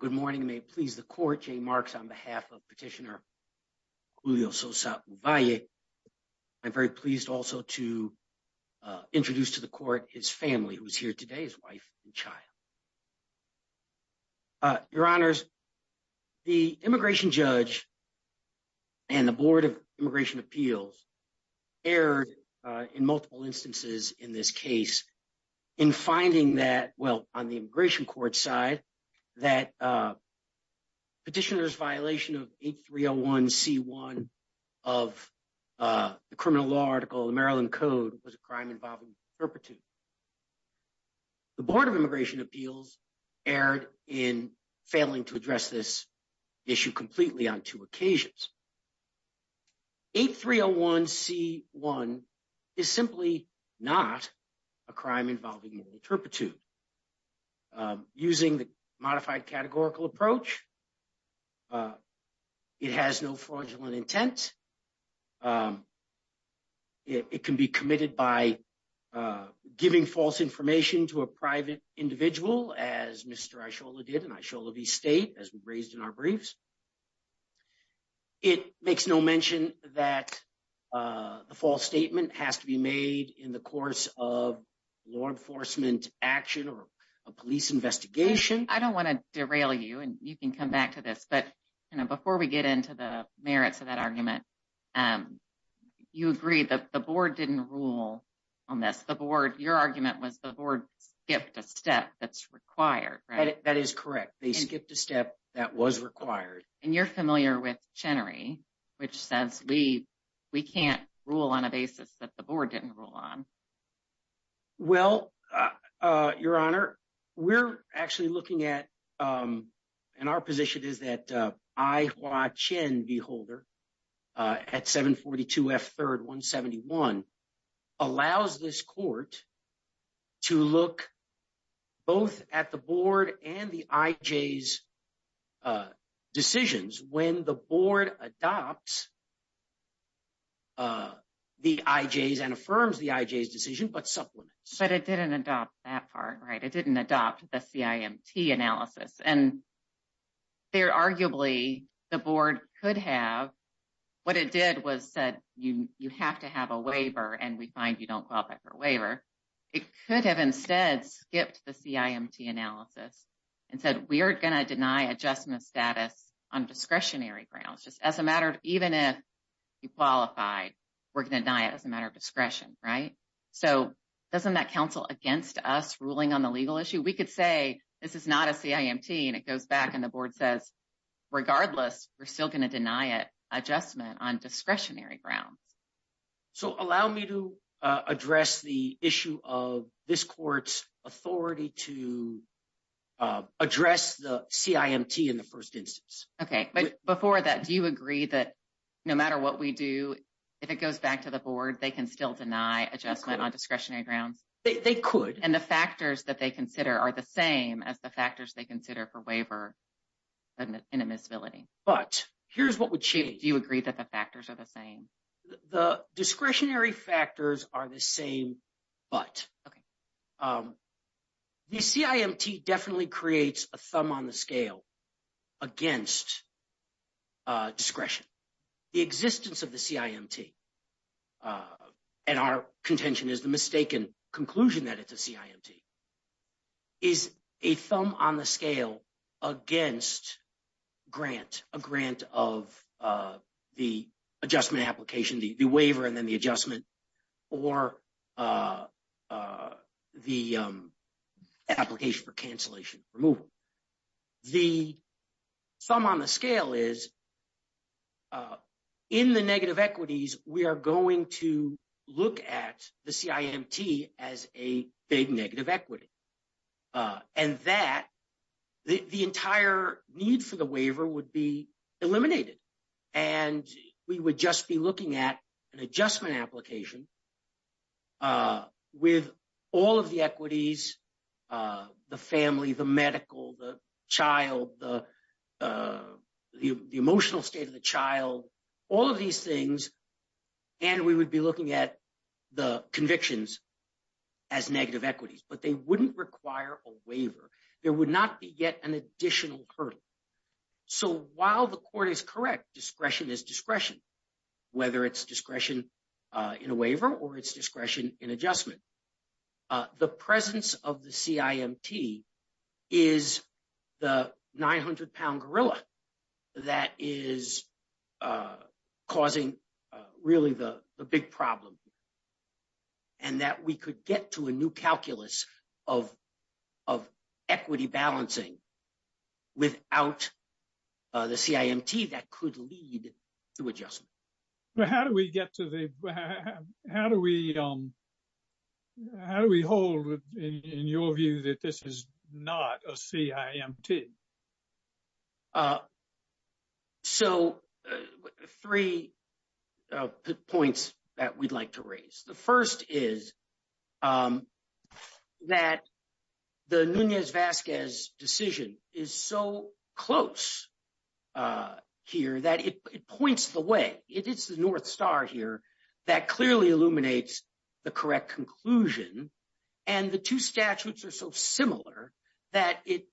Good morning, and may it please the Court, Jay Marks on behalf of Petitioner Julio Sosa Uvalle, I'm very pleased also to introduce to the Court his family, who is here today, his wife and child. Your Honors, the Immigration Judge and the Board of Immigration Appeals erred in multiple instances in this case in finding that, well, on the Immigration Court side, that Petitioner's violation of 8301c1 of the criminal law article, the Maryland Code, was a crime involving perpetuity. The Board of Immigration Appeals erred in failing to address this issue completely on two occasions. 8301c1 is simply not a crime involving moral turpitude. Using the modified categorical approach, it has no fraudulent intent. It can be committed by giving false information to a private individual, as Mr. Aishola did and Aishola V. State, as we raised in our briefs. It makes no mention that the false statement has to be made in the course of law enforcement action or a police investigation. I don't want to derail you, and you can come back to this. But before we get into the merits of that argument, you agreed that the Board didn't rule on this. The Board, your argument was the Board skipped a step that's required, right? That is correct. They skipped a step that was required. And you're familiar with Chenery, which says we can't rule on a basis that the Board didn't rule on. Well, Your Honor, we're actually looking at, and our position is that I, Hua Chen, V. Holder, at 742 F. 3rd 171, allows this court to look both at the Board and the IJs decisions. When the Board adopts the IJs and affirms the IJs decision, but supplements. But it didn't adopt that part, right? It didn't adopt the CIMT analysis. And there, arguably, the Board could have, what it did was said, you have to have a waiver, and we find you don't qualify for a waiver. It could have instead skipped the CIMT analysis and said, we're going to deny adjustment status on discretionary grounds, just as a matter of, even if you qualify, we're going to deny it as a matter of discretion, right? So, doesn't that counsel against us ruling on the legal issue? We could say, this is not a CIMT, and it goes back and the Board says, regardless, we're still going to deny it adjustment on discretionary grounds. So, allow me to address the issue of this court's authority to address the CIMT in the first instance. Okay, but before that, do you agree that no matter what we do, if it goes back to the Board, they can still deny adjustment on discretionary grounds? They could. And the factors that they consider are the same as the factors they consider for waiver in a miscivility. But here's what would change. Do you agree that the factors are the same? The discretionary factors are the same, but the CIMT definitely creates a thumb on the scale against discretion. The existence of the CIMT, and our contention is the mistaken conclusion that it's a CIMT, is a thumb on the scale against grant, a grant of the adjustment application, the waiver and then the adjustment, or the application for cancellation removal. The thumb on the scale is in the negative equities, we are going to look at the CIMT as a big negative equity. And that, the entire need for the waiver would be eliminated. And we would just be looking at an adjustment application with all of the equities, the family, the medical, the child, the emotional state of the child, all of these things. And we would be looking at the convictions as negative equities, but they wouldn't require a waiver. There would not be yet an additional hurdle. So while the court is correct, discretion is discretion, whether it's discretion in a waiver or it's discretion in adjustment. The presence of the CIMT is the 900-pound gorilla that is causing really the big problem. And that we could get to a new calculus of equity balancing without the CIMT that could lead to adjustment. But how do we get to the, how do we, how do we hold in your view that this is not a CIMT? So three points that we'd like to raise. The first is that the Nunez-Vasquez decision is so close here that it points the way. It's the North Star here that clearly illuminates the correct conclusion. And the two statutes are so similar that it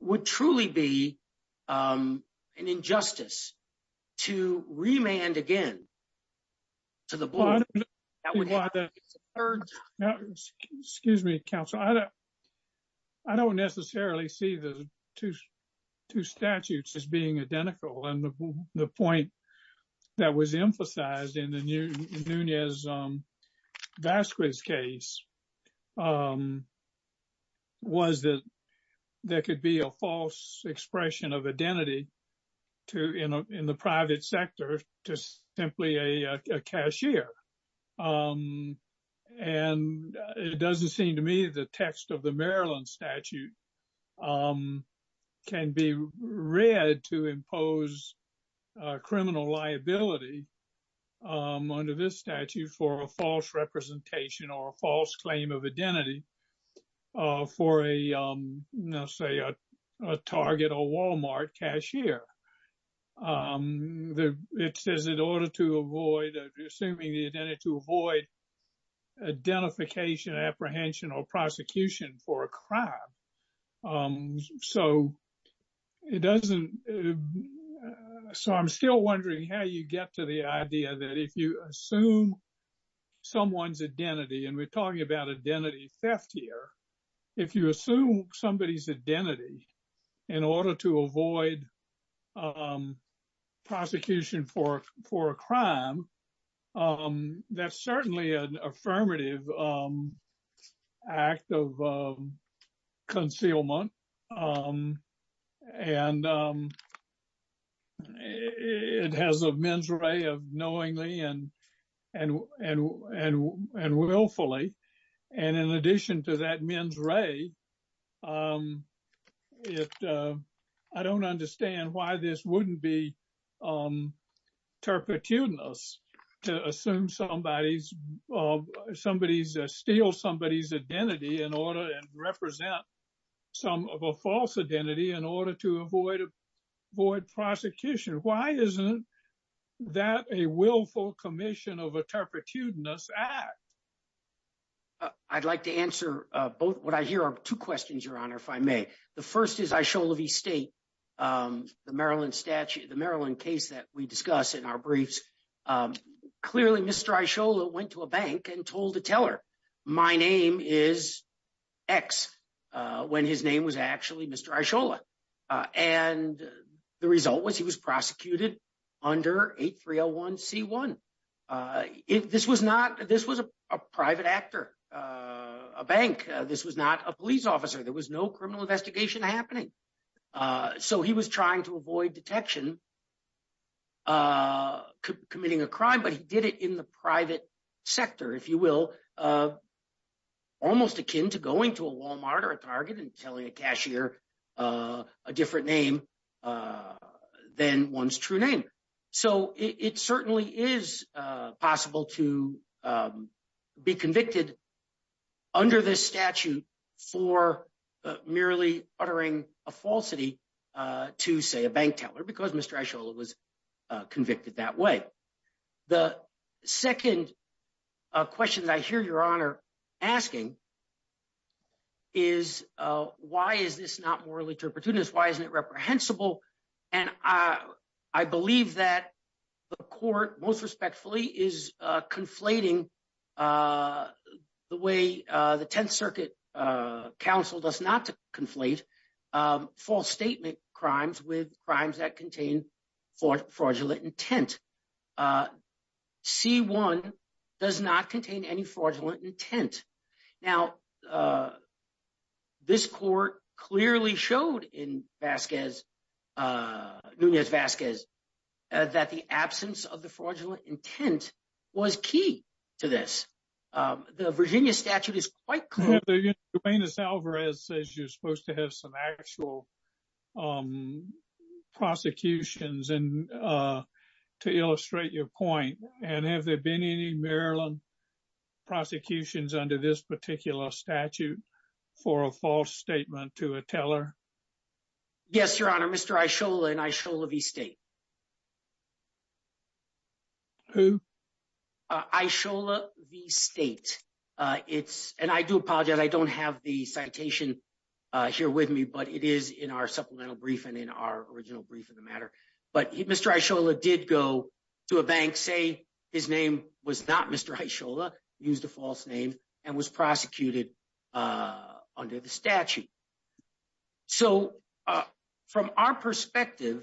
would truly be an injustice to remand again to the board. Excuse me, counsel. I don't necessarily see the two statutes as being identical. And the point that was emphasized in the Nunez-Vasquez case was that there could be a false expression of identity in the private sector to simply a cashier. And it doesn't seem to me the text of the Maryland statute can be read to impose criminal liability under this statute for a false representation or a false claim of identity for a, let's say, a Target or Walmart cashier. It says in order to avoid assuming the identity to avoid identification, apprehension or prosecution for a crime. So it doesn't. So I'm still wondering how you get to the idea that if you assume someone's identity and we're talking about identity theft here. If you assume somebody's identity in order to avoid prosecution for a crime, that's certainly an affirmative act of concealment. And it has a men's array of knowingly and willfully. And in addition to that men's array, I don't understand why this wouldn't be turpitudinous to assume somebody's somebody's steal somebody's identity in order to represent some of a false identity in order to avoid a void prosecution. Why isn't that a willful commission of a turpitudinous act? I'd like to answer both. What I hear are two questions, Your Honor, if I may. The first is I show the state, the Maryland statute, the Maryland case that we discuss in our briefs. Clearly, Mr. Ishola went to a bank and told the teller my name is X when his name was actually Mr. Ishola. And the result was he was prosecuted under 8301C1. This was not, this was a private actor, a bank. This was not a police officer. There was no criminal investigation happening. So he was trying to avoid detection, committing a crime, but he did it in the private sector, if you will, almost akin to going to a Walmart or a Target and telling a cashier a different name than one's true name. So it certainly is possible to be convicted under this statute for merely uttering a falsity to say a bank teller because Mr. Ishola was convicted that way. The second question that I hear Your Honor asking is why is this not morally turpitudinous? Why isn't it reprehensible? And I believe that the court most respectfully is conflating the way the Tenth Circuit counsel does not conflate false statement crimes with crimes that contain fraudulent intent. C1 does not contain any fraudulent intent. Now, this court clearly showed in Vasquez, Nunez-Vasquez, that the absence of the fraudulent intent was key to this. The Virginia statute is quite clear. Juvenus Alvarez says you're supposed to have some actual prosecutions and to illustrate your point. And have there been any Maryland prosecutions under this particular statute for a false statement to a teller? Yes, Your Honor. Mr. Ishola and Ishola v. State. Who? Ishola v. State. And I do apologize. I don't have the citation here with me, but it is in our supplemental brief and in our original brief in the matter. But Mr. Ishola did go to a bank, say his name was not Mr. Ishola, used a false name, and was prosecuted under the statute. So from our perspective...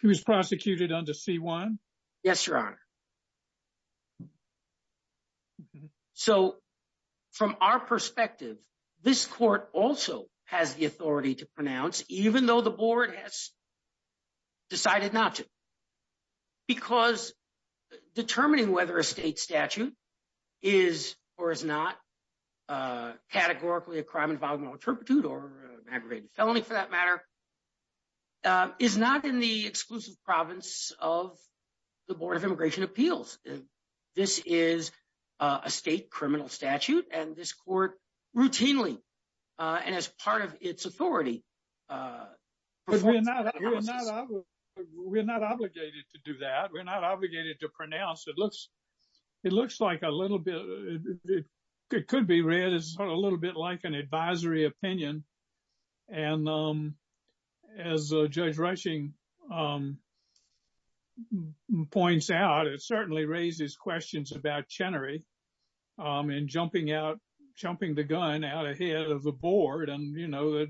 He was prosecuted under C1? Yes, Your Honor. So from our perspective, this court also has the authority to pronounce, even though the board has decided not to. Because determining whether a state statute is or is not categorically a crime involving an alterpitude or aggravated felony for that matter, is not in the exclusive province of the Board of Immigration Appeals. This is a state criminal statute and this court routinely and as part of its authority... We're not obligated to do that. We're not obligated to pronounce. It looks like a little bit, it could be read as a little bit like an advisory opinion. And as Judge Rushing points out, it certainly raises questions about Chenery and jumping out, jumping the gun out ahead of the board. And, you know,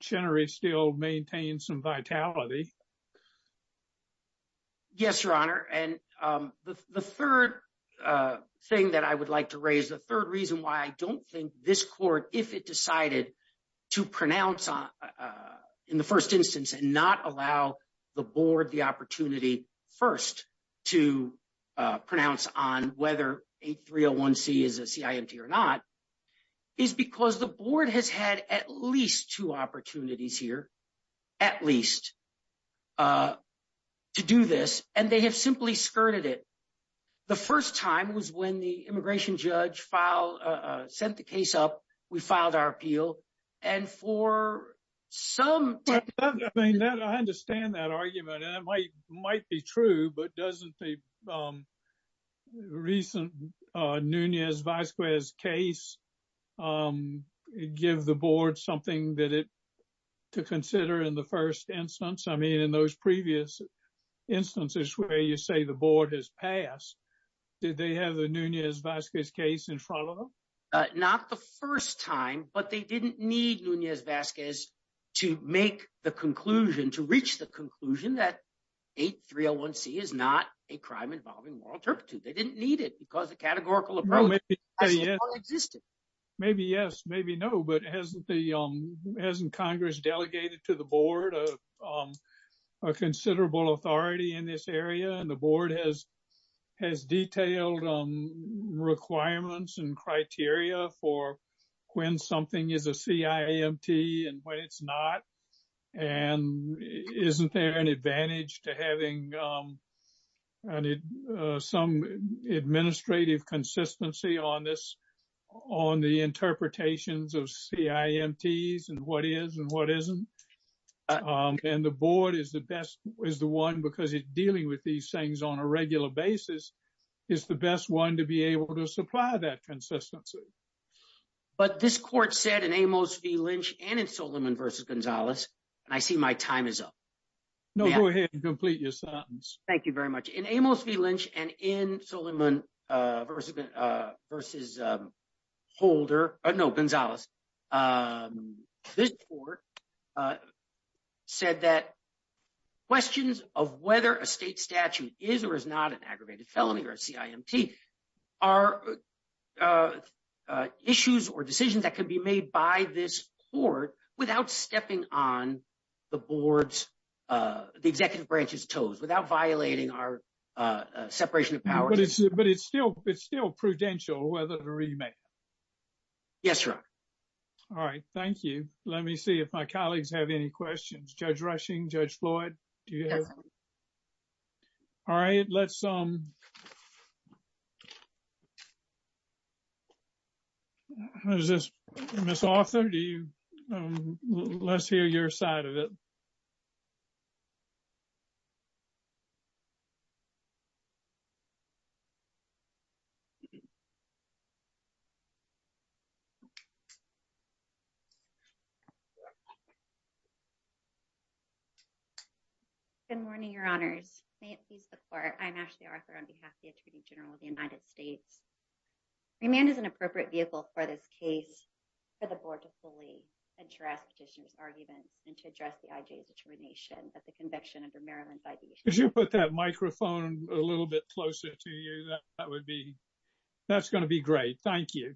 Chenery still maintains some vitality. Yes, Your Honor. And the third thing that I would like to raise, the third reason why I don't think this court, if it decided to pronounce in the first instance and not allow the board the opportunity first to pronounce on whether 8301C is a CIMT or not, is because the board has had at least two opportunities here, at least, to do this, and they have simply skirted it. The first time was when the immigration judge filed, sent the case up, we filed our appeal, and for some... I mean, I understand that argument and it might be true, but doesn't the recent Nunez-Vazquez case give the board something to consider in the first instance? I mean, in those previous instances where you say the board has passed, did they have the Nunez-Vazquez case in front of them? Not the first time, but they didn't need Nunez-Vazquez to make the conclusion, to reach the conclusion that 8301C is not a crime involving moral turpitude. They didn't need it because the categorical approach has not existed. Maybe yes, maybe no, but hasn't Congress delegated to the board a considerable authority in this area and the board has detailed requirements and criteria for when something is a CIMT and when it's not? And isn't there an advantage to having some administrative consistency on this, on the interpretations of CIMTs and what is and what isn't? And the board is the best, is the one, because it's dealing with these things on a regular basis, is the best one to be able to supply that consistency. But this court said in Amos v. Lynch and in Solomon versus Gonzalez, and I see my time is up. No, go ahead and complete your sentence. Thank you very much. In Amos v. Lynch and in Solomon versus Holder, no, Gonzalez, this court said that questions of whether a state statute is or is not an aggravated felony or a CIMT are issues or decisions that can be made by this court without stepping on the board's, the executive branch's toes, without violating our separation of powers. But it's still prudential whether to remand. Yes, Your Honor. All right, thank you. Let me see if my colleagues have any questions. Judge Rushing, Judge Floyd, do you have? Yes, Your Honor. All right, let's, um, how's this, Ms. Arthur, do you, let's hear your side of it. Good morning, Your Honors, may it please the court, I'm Ashley Arthur on behalf of the Attorney General of the United States. Remand is an appropriate vehicle for this case for the board to fully address petitioners' arguments and to address the I.J.'s determination that the conviction under Maryland's I.D. Could you put that microphone a little bit closer to you? That would be, that's going to be great. Thank you.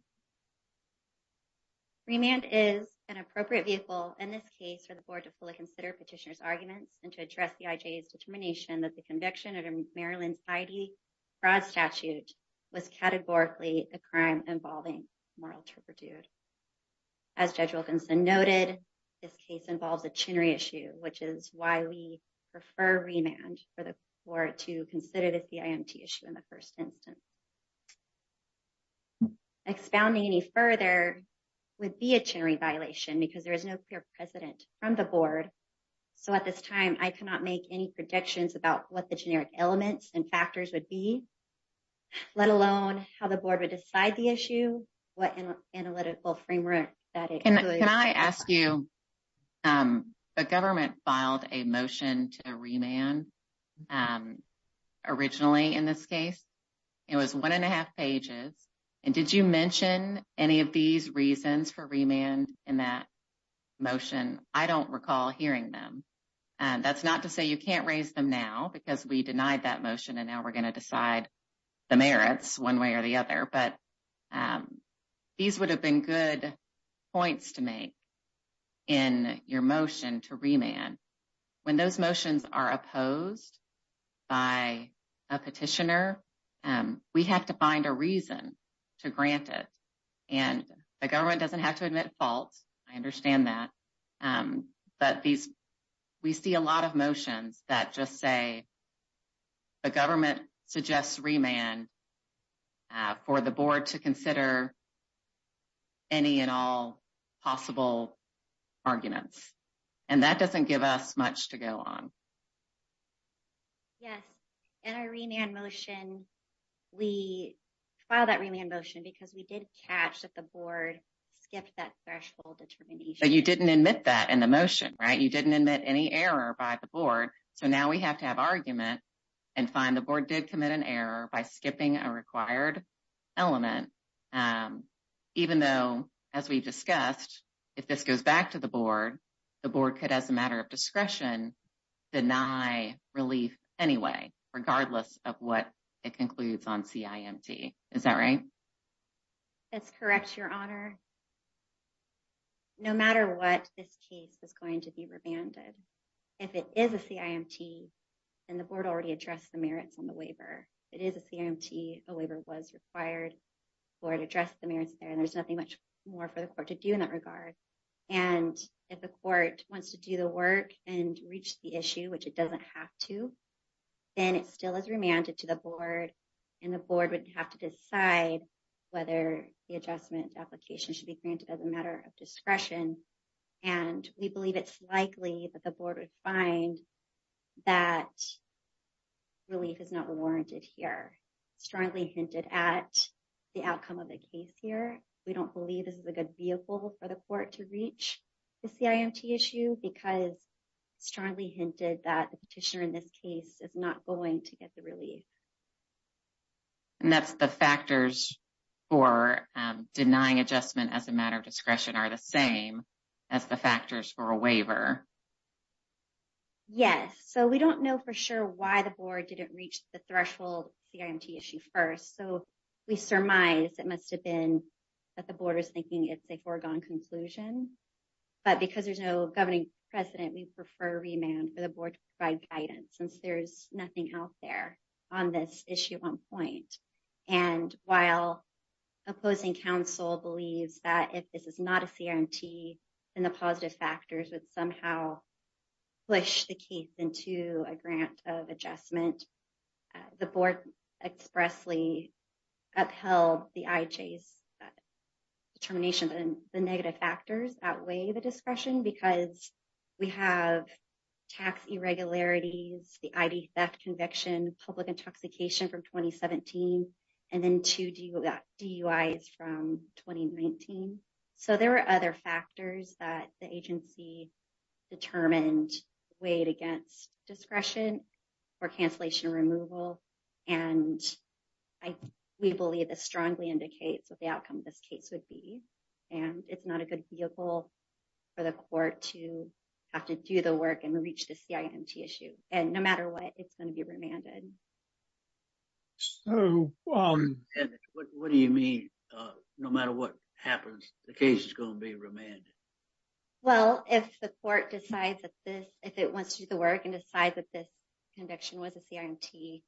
Remand is an appropriate vehicle in this case for the board to fully consider petitioners' arguments and to address the I.J.'s determination that the conviction under Maryland's I.D. Fraud statute was categorically a crime involving moral turpitude. As Judge Wilkinson noted, this case involves a chinnery issue, which is why we prefer remand for the board to consider the CIMT issue in the first instance. Expounding any further would be a chinnery violation because there is no clear precedent from the board. So, at this time, I cannot make any predictions about what the generic elements and factors would be, let alone how the board would decide the issue, what analytical framework that includes. Can I ask you, the government filed a motion to remand originally in this case. It was one and a half pages. And did you mention any of these reasons for remand in that motion? I don't recall hearing them. That's not to say you can't raise them now because we denied that motion and now we're going to decide the merits one way or the other. But these would have been good points to make in your motion to remand. When those motions are opposed by a petitioner, we have to find a reason to grant it. And the government doesn't have to admit fault. I understand that. But we see a lot of motions that just say the government suggests remand for the board to consider any and all possible arguments. And that doesn't give us much to go on. Yes. In our remand motion, we filed that remand motion because we did catch that the board skipped that threshold determination. So you didn't admit that in the motion, right? You didn't admit any error by the board. So now we have to have argument and find the board did commit an error by skipping a required element. Even though, as we've discussed, if this goes back to the board, the board could, as a matter of discretion, deny relief anyway, regardless of what it concludes on CIMT. Is that right? That's correct, Your Honor. No matter what, this case is going to be remanded. If it is a CIMT, then the board already addressed the merits on the waiver. If it is a CIMT, a waiver was required for it to address the merits there, and there's nothing much more for the court to do in that regard. And if the court wants to do the work and reach the issue, which it doesn't have to, then it still is remanded to the board, and the board would have to decide whether the adjustment application should be granted as a matter of discretion. And we believe it's likely that the board would find that relief is not warranted here. We strongly hinted at the outcome of the case here. We don't believe this is a good vehicle for the court to reach the CIMT issue because strongly hinted that the petitioner in this case is not going to get the relief. And that's the factors for denying adjustment as a matter of discretion are the same as the factors for a waiver. Yes, so we don't know for sure why the board didn't reach the threshold CIMT issue first. So, we surmise it must have been that the board is thinking it's a foregone conclusion. But because there's no governing precedent, we prefer remand for the board to provide guidance since there's nothing out there on this issue at one point. And while opposing counsel believes that if this is not a CRMT, then the positive factors would somehow push the case into a grant of adjustment. The board expressly upheld the IJ's determination that the negative factors outweigh the discretion because we have tax irregularities, the ID theft conviction, public intoxication from 2017, and then two DUIs from 2019. So, there were other factors that the agency determined weighed against discretion or cancellation removal. And we believe this strongly indicates what the outcome of this case would be. And it's not a good vehicle for the court to have to do the work and reach the CIMT issue. And no matter what, it's going to be remanded. So, what do you mean, no matter what happens, the case is going to be remanded? Well, if the court decides that this, if it wants to do the work and decide that this conviction was a CIMT,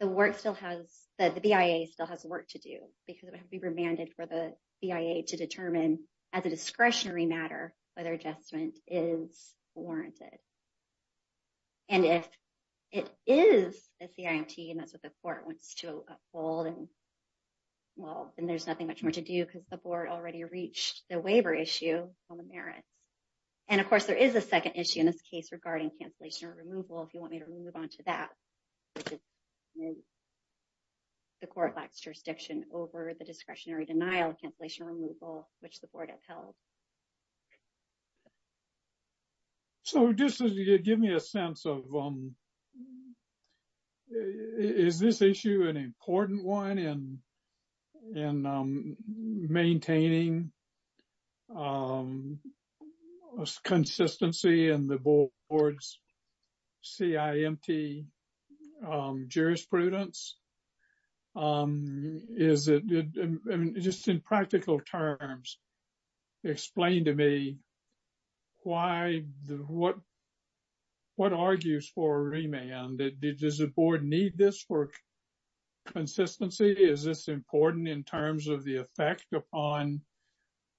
the work still has, the BIA still has work to do because it would have to be remanded for the BIA to determine as a discretionary matter, whether adjustment is warranted. And if it is a CIMT, and that's what the court wants to uphold and, well, then there's nothing much more to do because the board already reached the waiver issue on the merits. And of course, there is a second issue in this case regarding cancellation removal, if you want me to move on to that. The court lacks jurisdiction over the discretionary denial of cancellation removal, which the board upheld. So, just give me a sense of, is this issue an important one in maintaining consistency in the board's CIMT jurisprudence? Is it, just in practical terms, explain to me why, what, what argues for remand? Does the board need this for consistency? Is this important in terms of the effect upon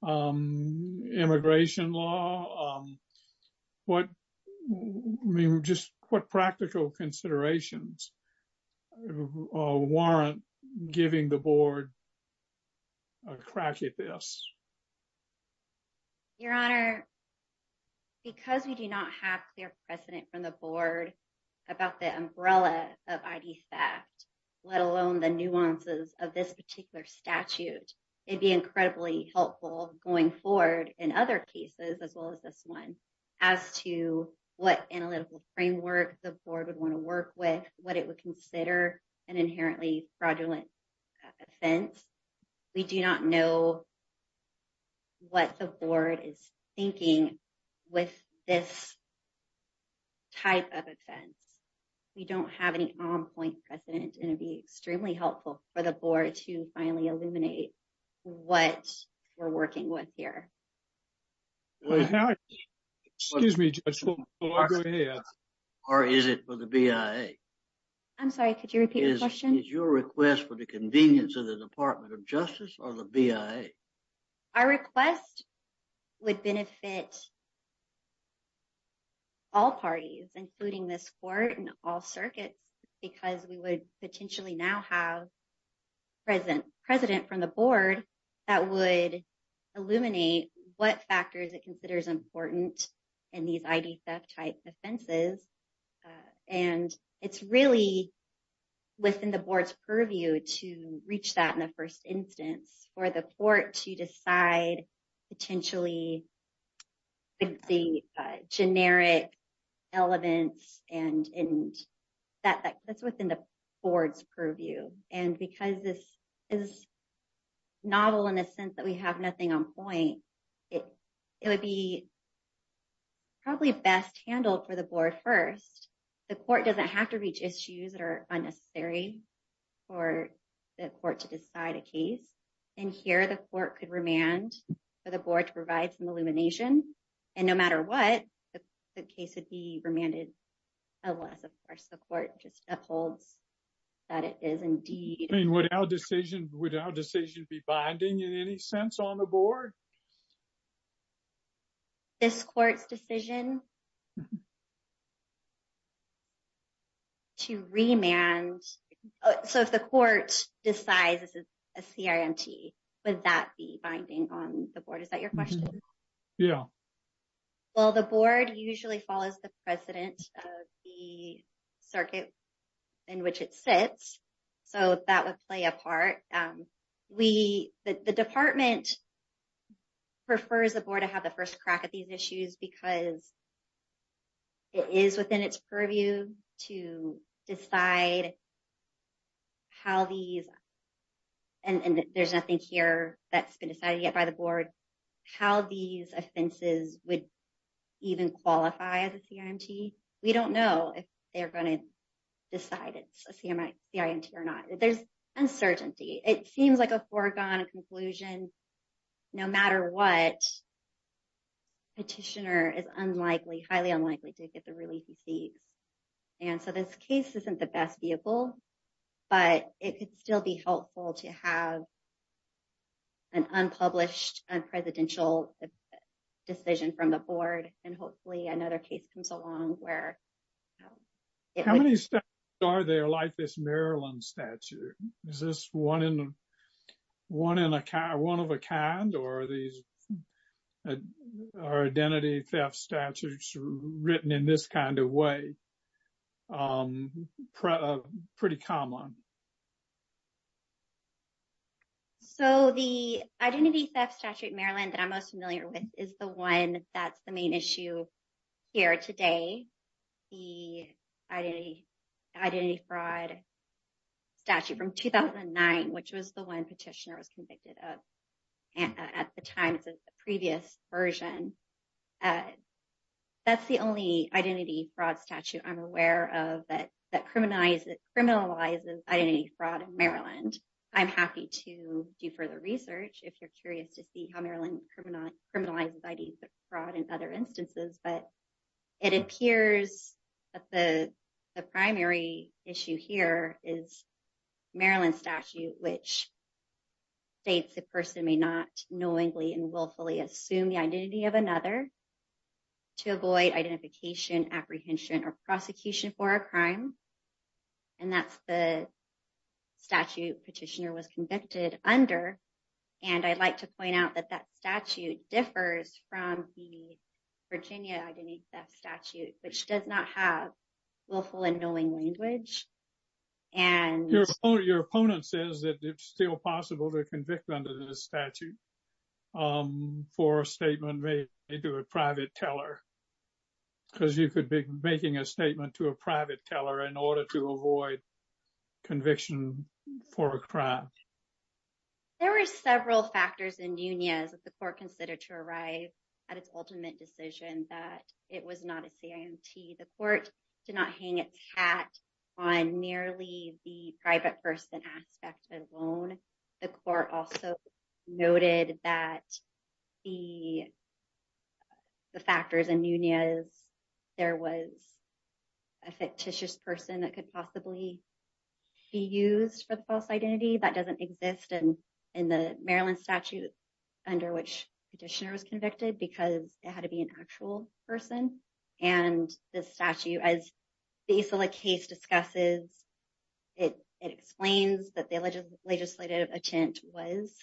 immigration law? What, I mean, just what practical considerations warrant giving the board a crack at this? Your Honor, because we do not have clear precedent from the board about the umbrella of IDFACT, let alone the nuances of this particular statute, it'd be incredibly helpful going forward in other cases, as well as this one, as to what analytical framework the board would want to work with, what it would consider an inherently fraudulent offense. We do not know what the board is thinking with this type of offense. We don't have any on-point precedent, and it'd be extremely helpful for the board to finally illuminate what we're working with here. Excuse me, Judge, before I go to you. Or is it for the BIA? Is your request for the convenience of the Department of Justice or the BIA? Our request would benefit all parties, including this court and all circuits, because we would potentially now have precedent from the board that would illuminate what factors it considers important in these ID theft type offenses. And it's really within the board's purview to reach that in the first instance for the court to decide potentially the generic elements, and that's within the board's purview. And because this is novel in the sense that we have nothing on point, it would be probably best handled for the board first. The court doesn't have to reach issues that are unnecessary for the court to decide a case. And here the court could remand for the board to provide some illumination, and no matter what, the case would be remanded unless, of course, the court just upholds that it is indeed. Would our decision be binding in any sense on the board? This court's decision to remand, so if the court decides this is a CRMT, would that be binding on the board? Is that your question? Yeah. Well, the board usually follows the precedent of the circuit in which it sits, so that would play a part. The department prefers the board to have the first crack at these issues because it is within its purview to decide how these, and there's nothing here that's been decided yet by the board, how these offenses would even qualify as a CRMT. We don't know if they're going to decide it's a CRMT or not. There's uncertainty. It seems like a foregone conclusion. No matter what, a petitioner is highly unlikely to get the release he seeks. And so this case isn't the best vehicle, but it could still be helpful to have an unpublished, unpresidential decision from the board, and hopefully another case comes along where… How many statutes are there like this Maryland statute? Is this one of a kind, or are identity theft statutes written in this kind of way pretty common? So, the identity theft statute Maryland that I'm most familiar with is the one that's the main issue here today. The identity fraud statute from 2009, which was the one petitioner was convicted of at the time of the previous version, that's the only identity fraud statute I'm aware of that criminalizes identity fraud in Maryland. And I'm happy to do further research if you're curious to see how Maryland criminalizes identity fraud in other instances. But it appears that the primary issue here is Maryland statute, which states a person may not knowingly and willfully assume the identity of another to avoid identification, apprehension or prosecution for a crime. And that's the statute petitioner was convicted under. And I'd like to point out that that statute differs from the Virginia identity theft statute, which does not have willful and knowing language. Your opponent says that it's still possible to convict under the statute for a statement made to a private teller, because you could be making a statement to a private teller in order to avoid conviction for a crime. There were several factors in Nunez that the court considered to arrive at its ultimate decision that it was not a CIMT. The court did not hang its hat on nearly the private person aspect alone. The court also noted that the factors in Nunez, there was a fictitious person that could possibly be used for false identity that doesn't exist in the Maryland statute under which petitioner was convicted because it had to be an actual person. And the statute, as the case discusses, it explains that the legislative intent was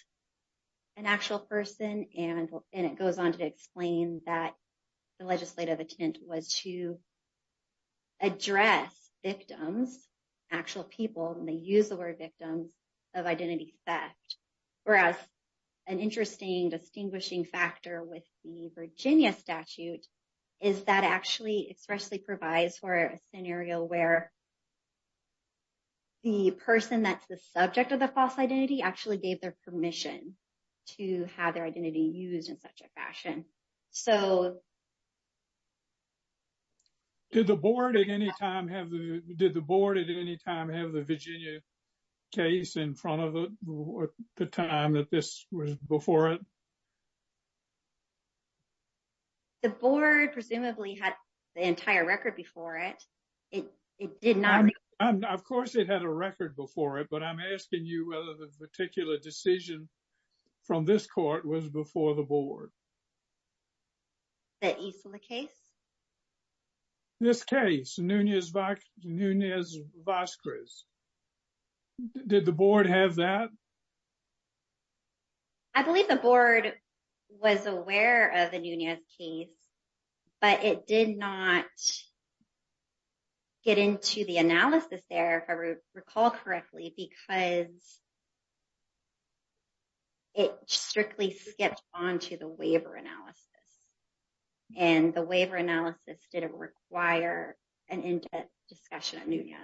an actual person. And it goes on to explain that the legislative intent was to address victims, actual people, and they use the word victims of identity theft. Whereas an interesting distinguishing factor with the Virginia statute is that actually expressly provides for a scenario where the person that's the subject of the false identity actually gave their permission to have their identity used in such a fashion. So. Did the board at any time have the did the board at any time have the Virginia case in front of the time that this was before it? The board presumably had the entire record before it. It did not. Of course, it had a record before it, but I'm asking you whether the particular decision from this court was before the board. That you saw the case? This case, Nunez-Vazquez. Did the board have that? I believe the board was aware of the Nunez case, but it did not get into the analysis there, if I recall correctly, because it strictly skipped on to the waiver analysis. And the waiver analysis didn't require an in-depth discussion of Nunez.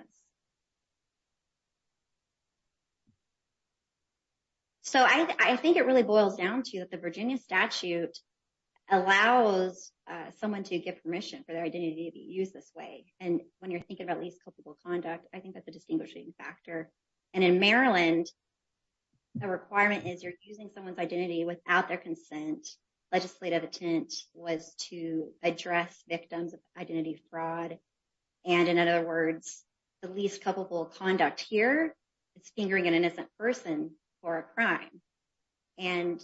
So, I think it really boils down to that the Virginia statute allows someone to get permission for their identity to be used this way. And when you're thinking about least culpable conduct, I think that's a distinguishing factor. And in Maryland, the requirement is you're using someone's identity without their consent. Legislative intent was to address victims of identity fraud. And in other words, the least culpable conduct here is fingering an innocent person for a crime. And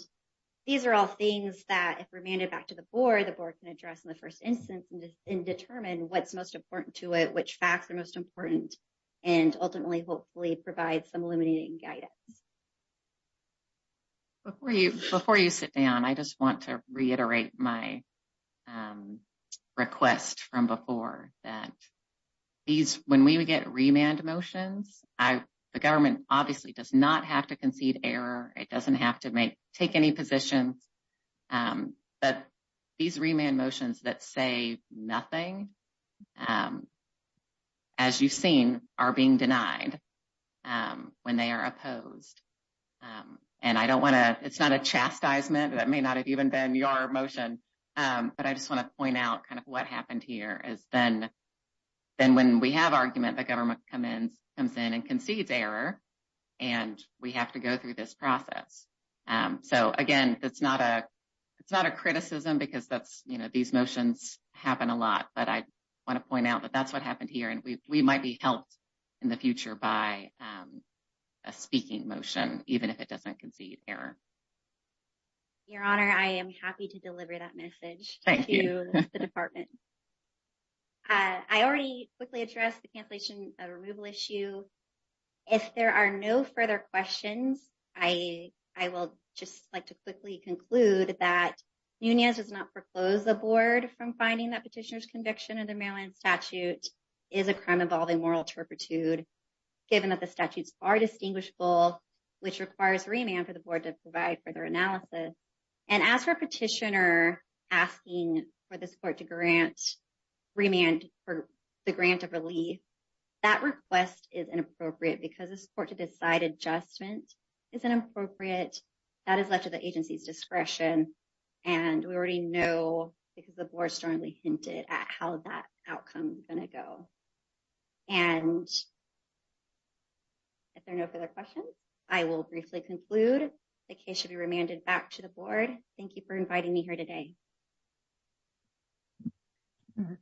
these are all things that, if remanded back to the board, the board can address in the first instance and determine what's most important to it, which facts are most important, and ultimately, hopefully, provide some illuminating guidance. Before you sit down, I just want to reiterate my request from before that when we get remand motions, the government obviously does not have to concede error. It doesn't have to take any positions. But these remand motions that say nothing, as you've seen, are being denied when they are opposed. And I don't want to, it's not a chastisement. That may not have even been your motion. But I just want to point out kind of what happened here is then when we have argument, the government comes in and concedes error, and we have to go through this process. So, again, it's not a criticism because these motions happen a lot, but I want to point out that that's what happened here. And we might be helped in the future by a speaking motion, even if it doesn't concede error. Your Honor, I am happy to deliver that message to the department. I already quickly addressed the cancellation of removal issue. If there are no further questions, I will just like to quickly conclude that Nunez does not proclose the board from finding that petitioner's conviction in the Maryland statute is a crime involving moral turpitude, given that the statutes are distinguishable, which requires remand for the board to provide further analysis. And as for petitioner asking for the support to grant remand for the grant of relief, that request is inappropriate because the support to decide adjustment is inappropriate. That is left to the agency's discretion. And we already know because the board strongly hinted at how that outcome is going to go. And if there are no further questions, I will briefly conclude the case should be remanded back to the board. Thank you for inviting me here today.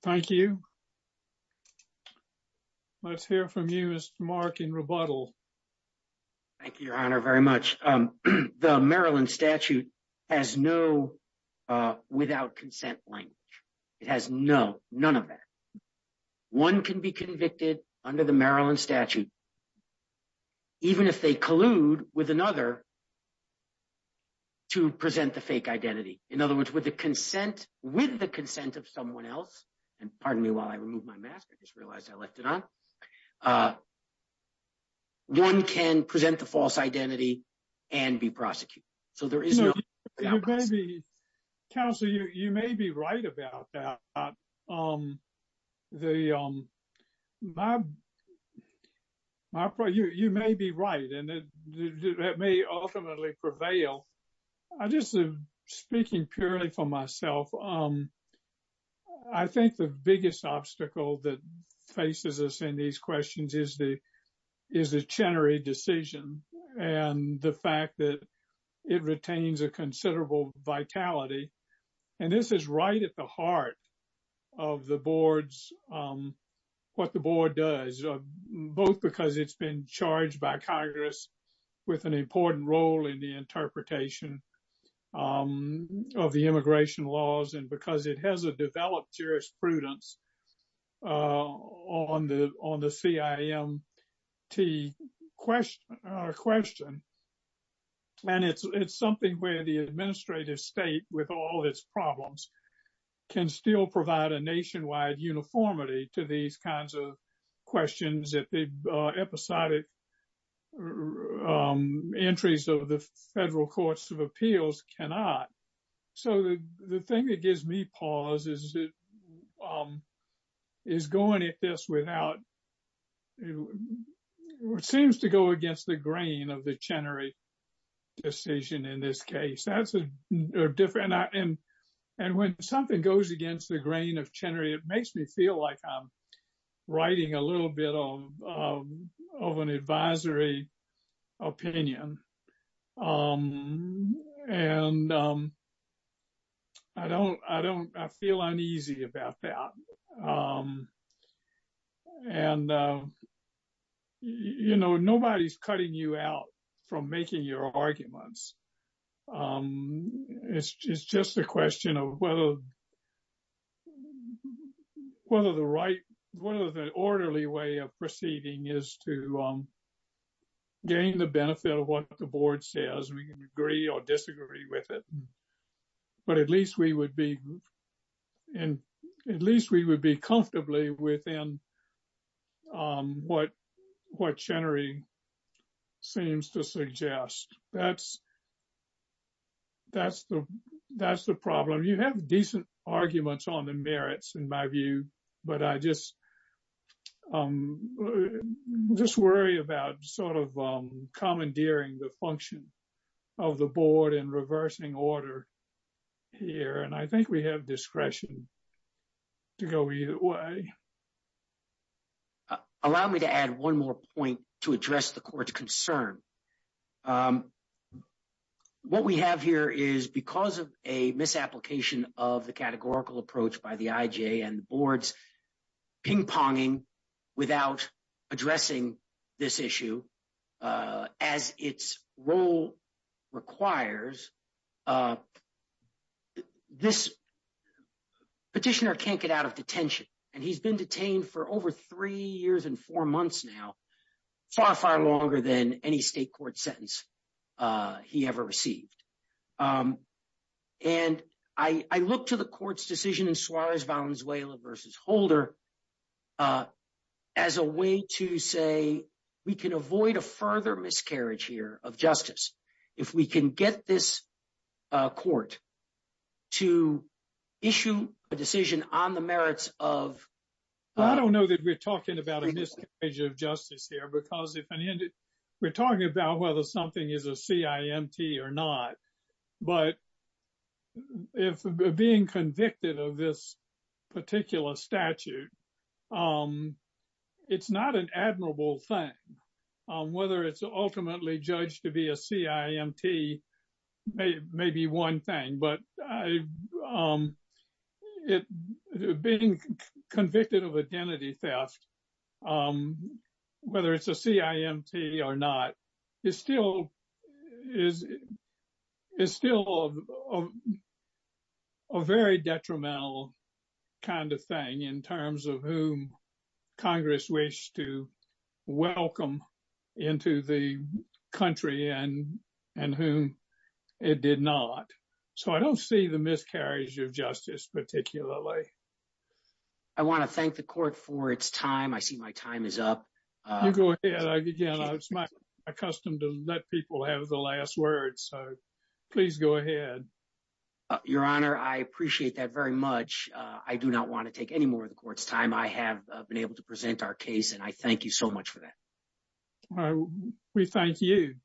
Thank you. Let's hear from you, Mark, in rebuttal. Thank you, Your Honor, very much. The Maryland statute has no without consent language. It has no, none of that. One can be convicted under the Maryland statute, even if they collude with another to present the fake identity. In other words, with the consent of someone else, and pardon me while I remove my mask, I just realized I left it on, one can present the false identity and be prosecuted. So, there is no. Counselor, you may be right about that. You may be right, and that may ultimately prevail. I just am speaking purely for myself. I think the biggest obstacle that faces us in these questions is the, is the Chenery decision and the fact that it retains a considerable vitality. And this is right at the heart of the board's, what the board does, both because it's been charged by Congress with an important role in the interpretation of the immigration laws and because it has a developed jurisprudence on the CIMT question. And it's something where the administrative state, with all its problems, can still provide a nationwide uniformity to these kinds of questions that the episodic entries of the federal courts of appeals cannot. So, the thing that gives me pause is going at this without, it seems to go against the grain of the Chenery decision in this case. And when something goes against the grain of Chenery, it makes me feel like I'm writing a little bit of an advisory opinion. And I don't, I don't, I feel uneasy about that. And, you know, nobody's cutting you out from making your arguments. It's just a question of whether, whether the right, whether the orderly way of proceeding is to gain the benefit of what the board says, we can agree or disagree with it. But at least we would be, and at least we would be comfortably within what Chenery seems to suggest. That's, that's the, that's the problem. You have decent arguments on the merits, in my view, but I just worry about sort of commandeering the function of the board in reversing order here. And I think we have discretion to go either way. Allow me to add one more point to address the court's concern. What we have here is because of a misapplication of the categorical approach by the IJ and boards ping-ponging without addressing this issue, as its role requires, this petitioner can't get out of detention. And he's been detained for over three years and four months now, far, far longer than any state court sentence he ever received. And I look to the court's decision in Suarez-Valenzuela v. Holder as a way to say, we can avoid a further miscarriage here of justice if we can get this court to issue a decision on the merits of — we're talking about whether something is a CIMT or not, but if being convicted of this particular statute, it's not an admirable thing. Whether it's ultimately judged to be a CIMT may be one thing, but being convicted of identity theft, whether it's a CIMT or not, is still a very detrimental kind of thing in terms of whom Congress wished to welcome into the country and whom it did not. So, I don't see the miscarriage of justice particularly. I want to thank the court for its time. I see my time is up. You go ahead. Again, it's my custom to let people have the last word. So, please go ahead. Your Honor, I appreciate that very much. I do not want to take any more of the court's time. I have been able to present our case, and I thank you so much for that. We thank you.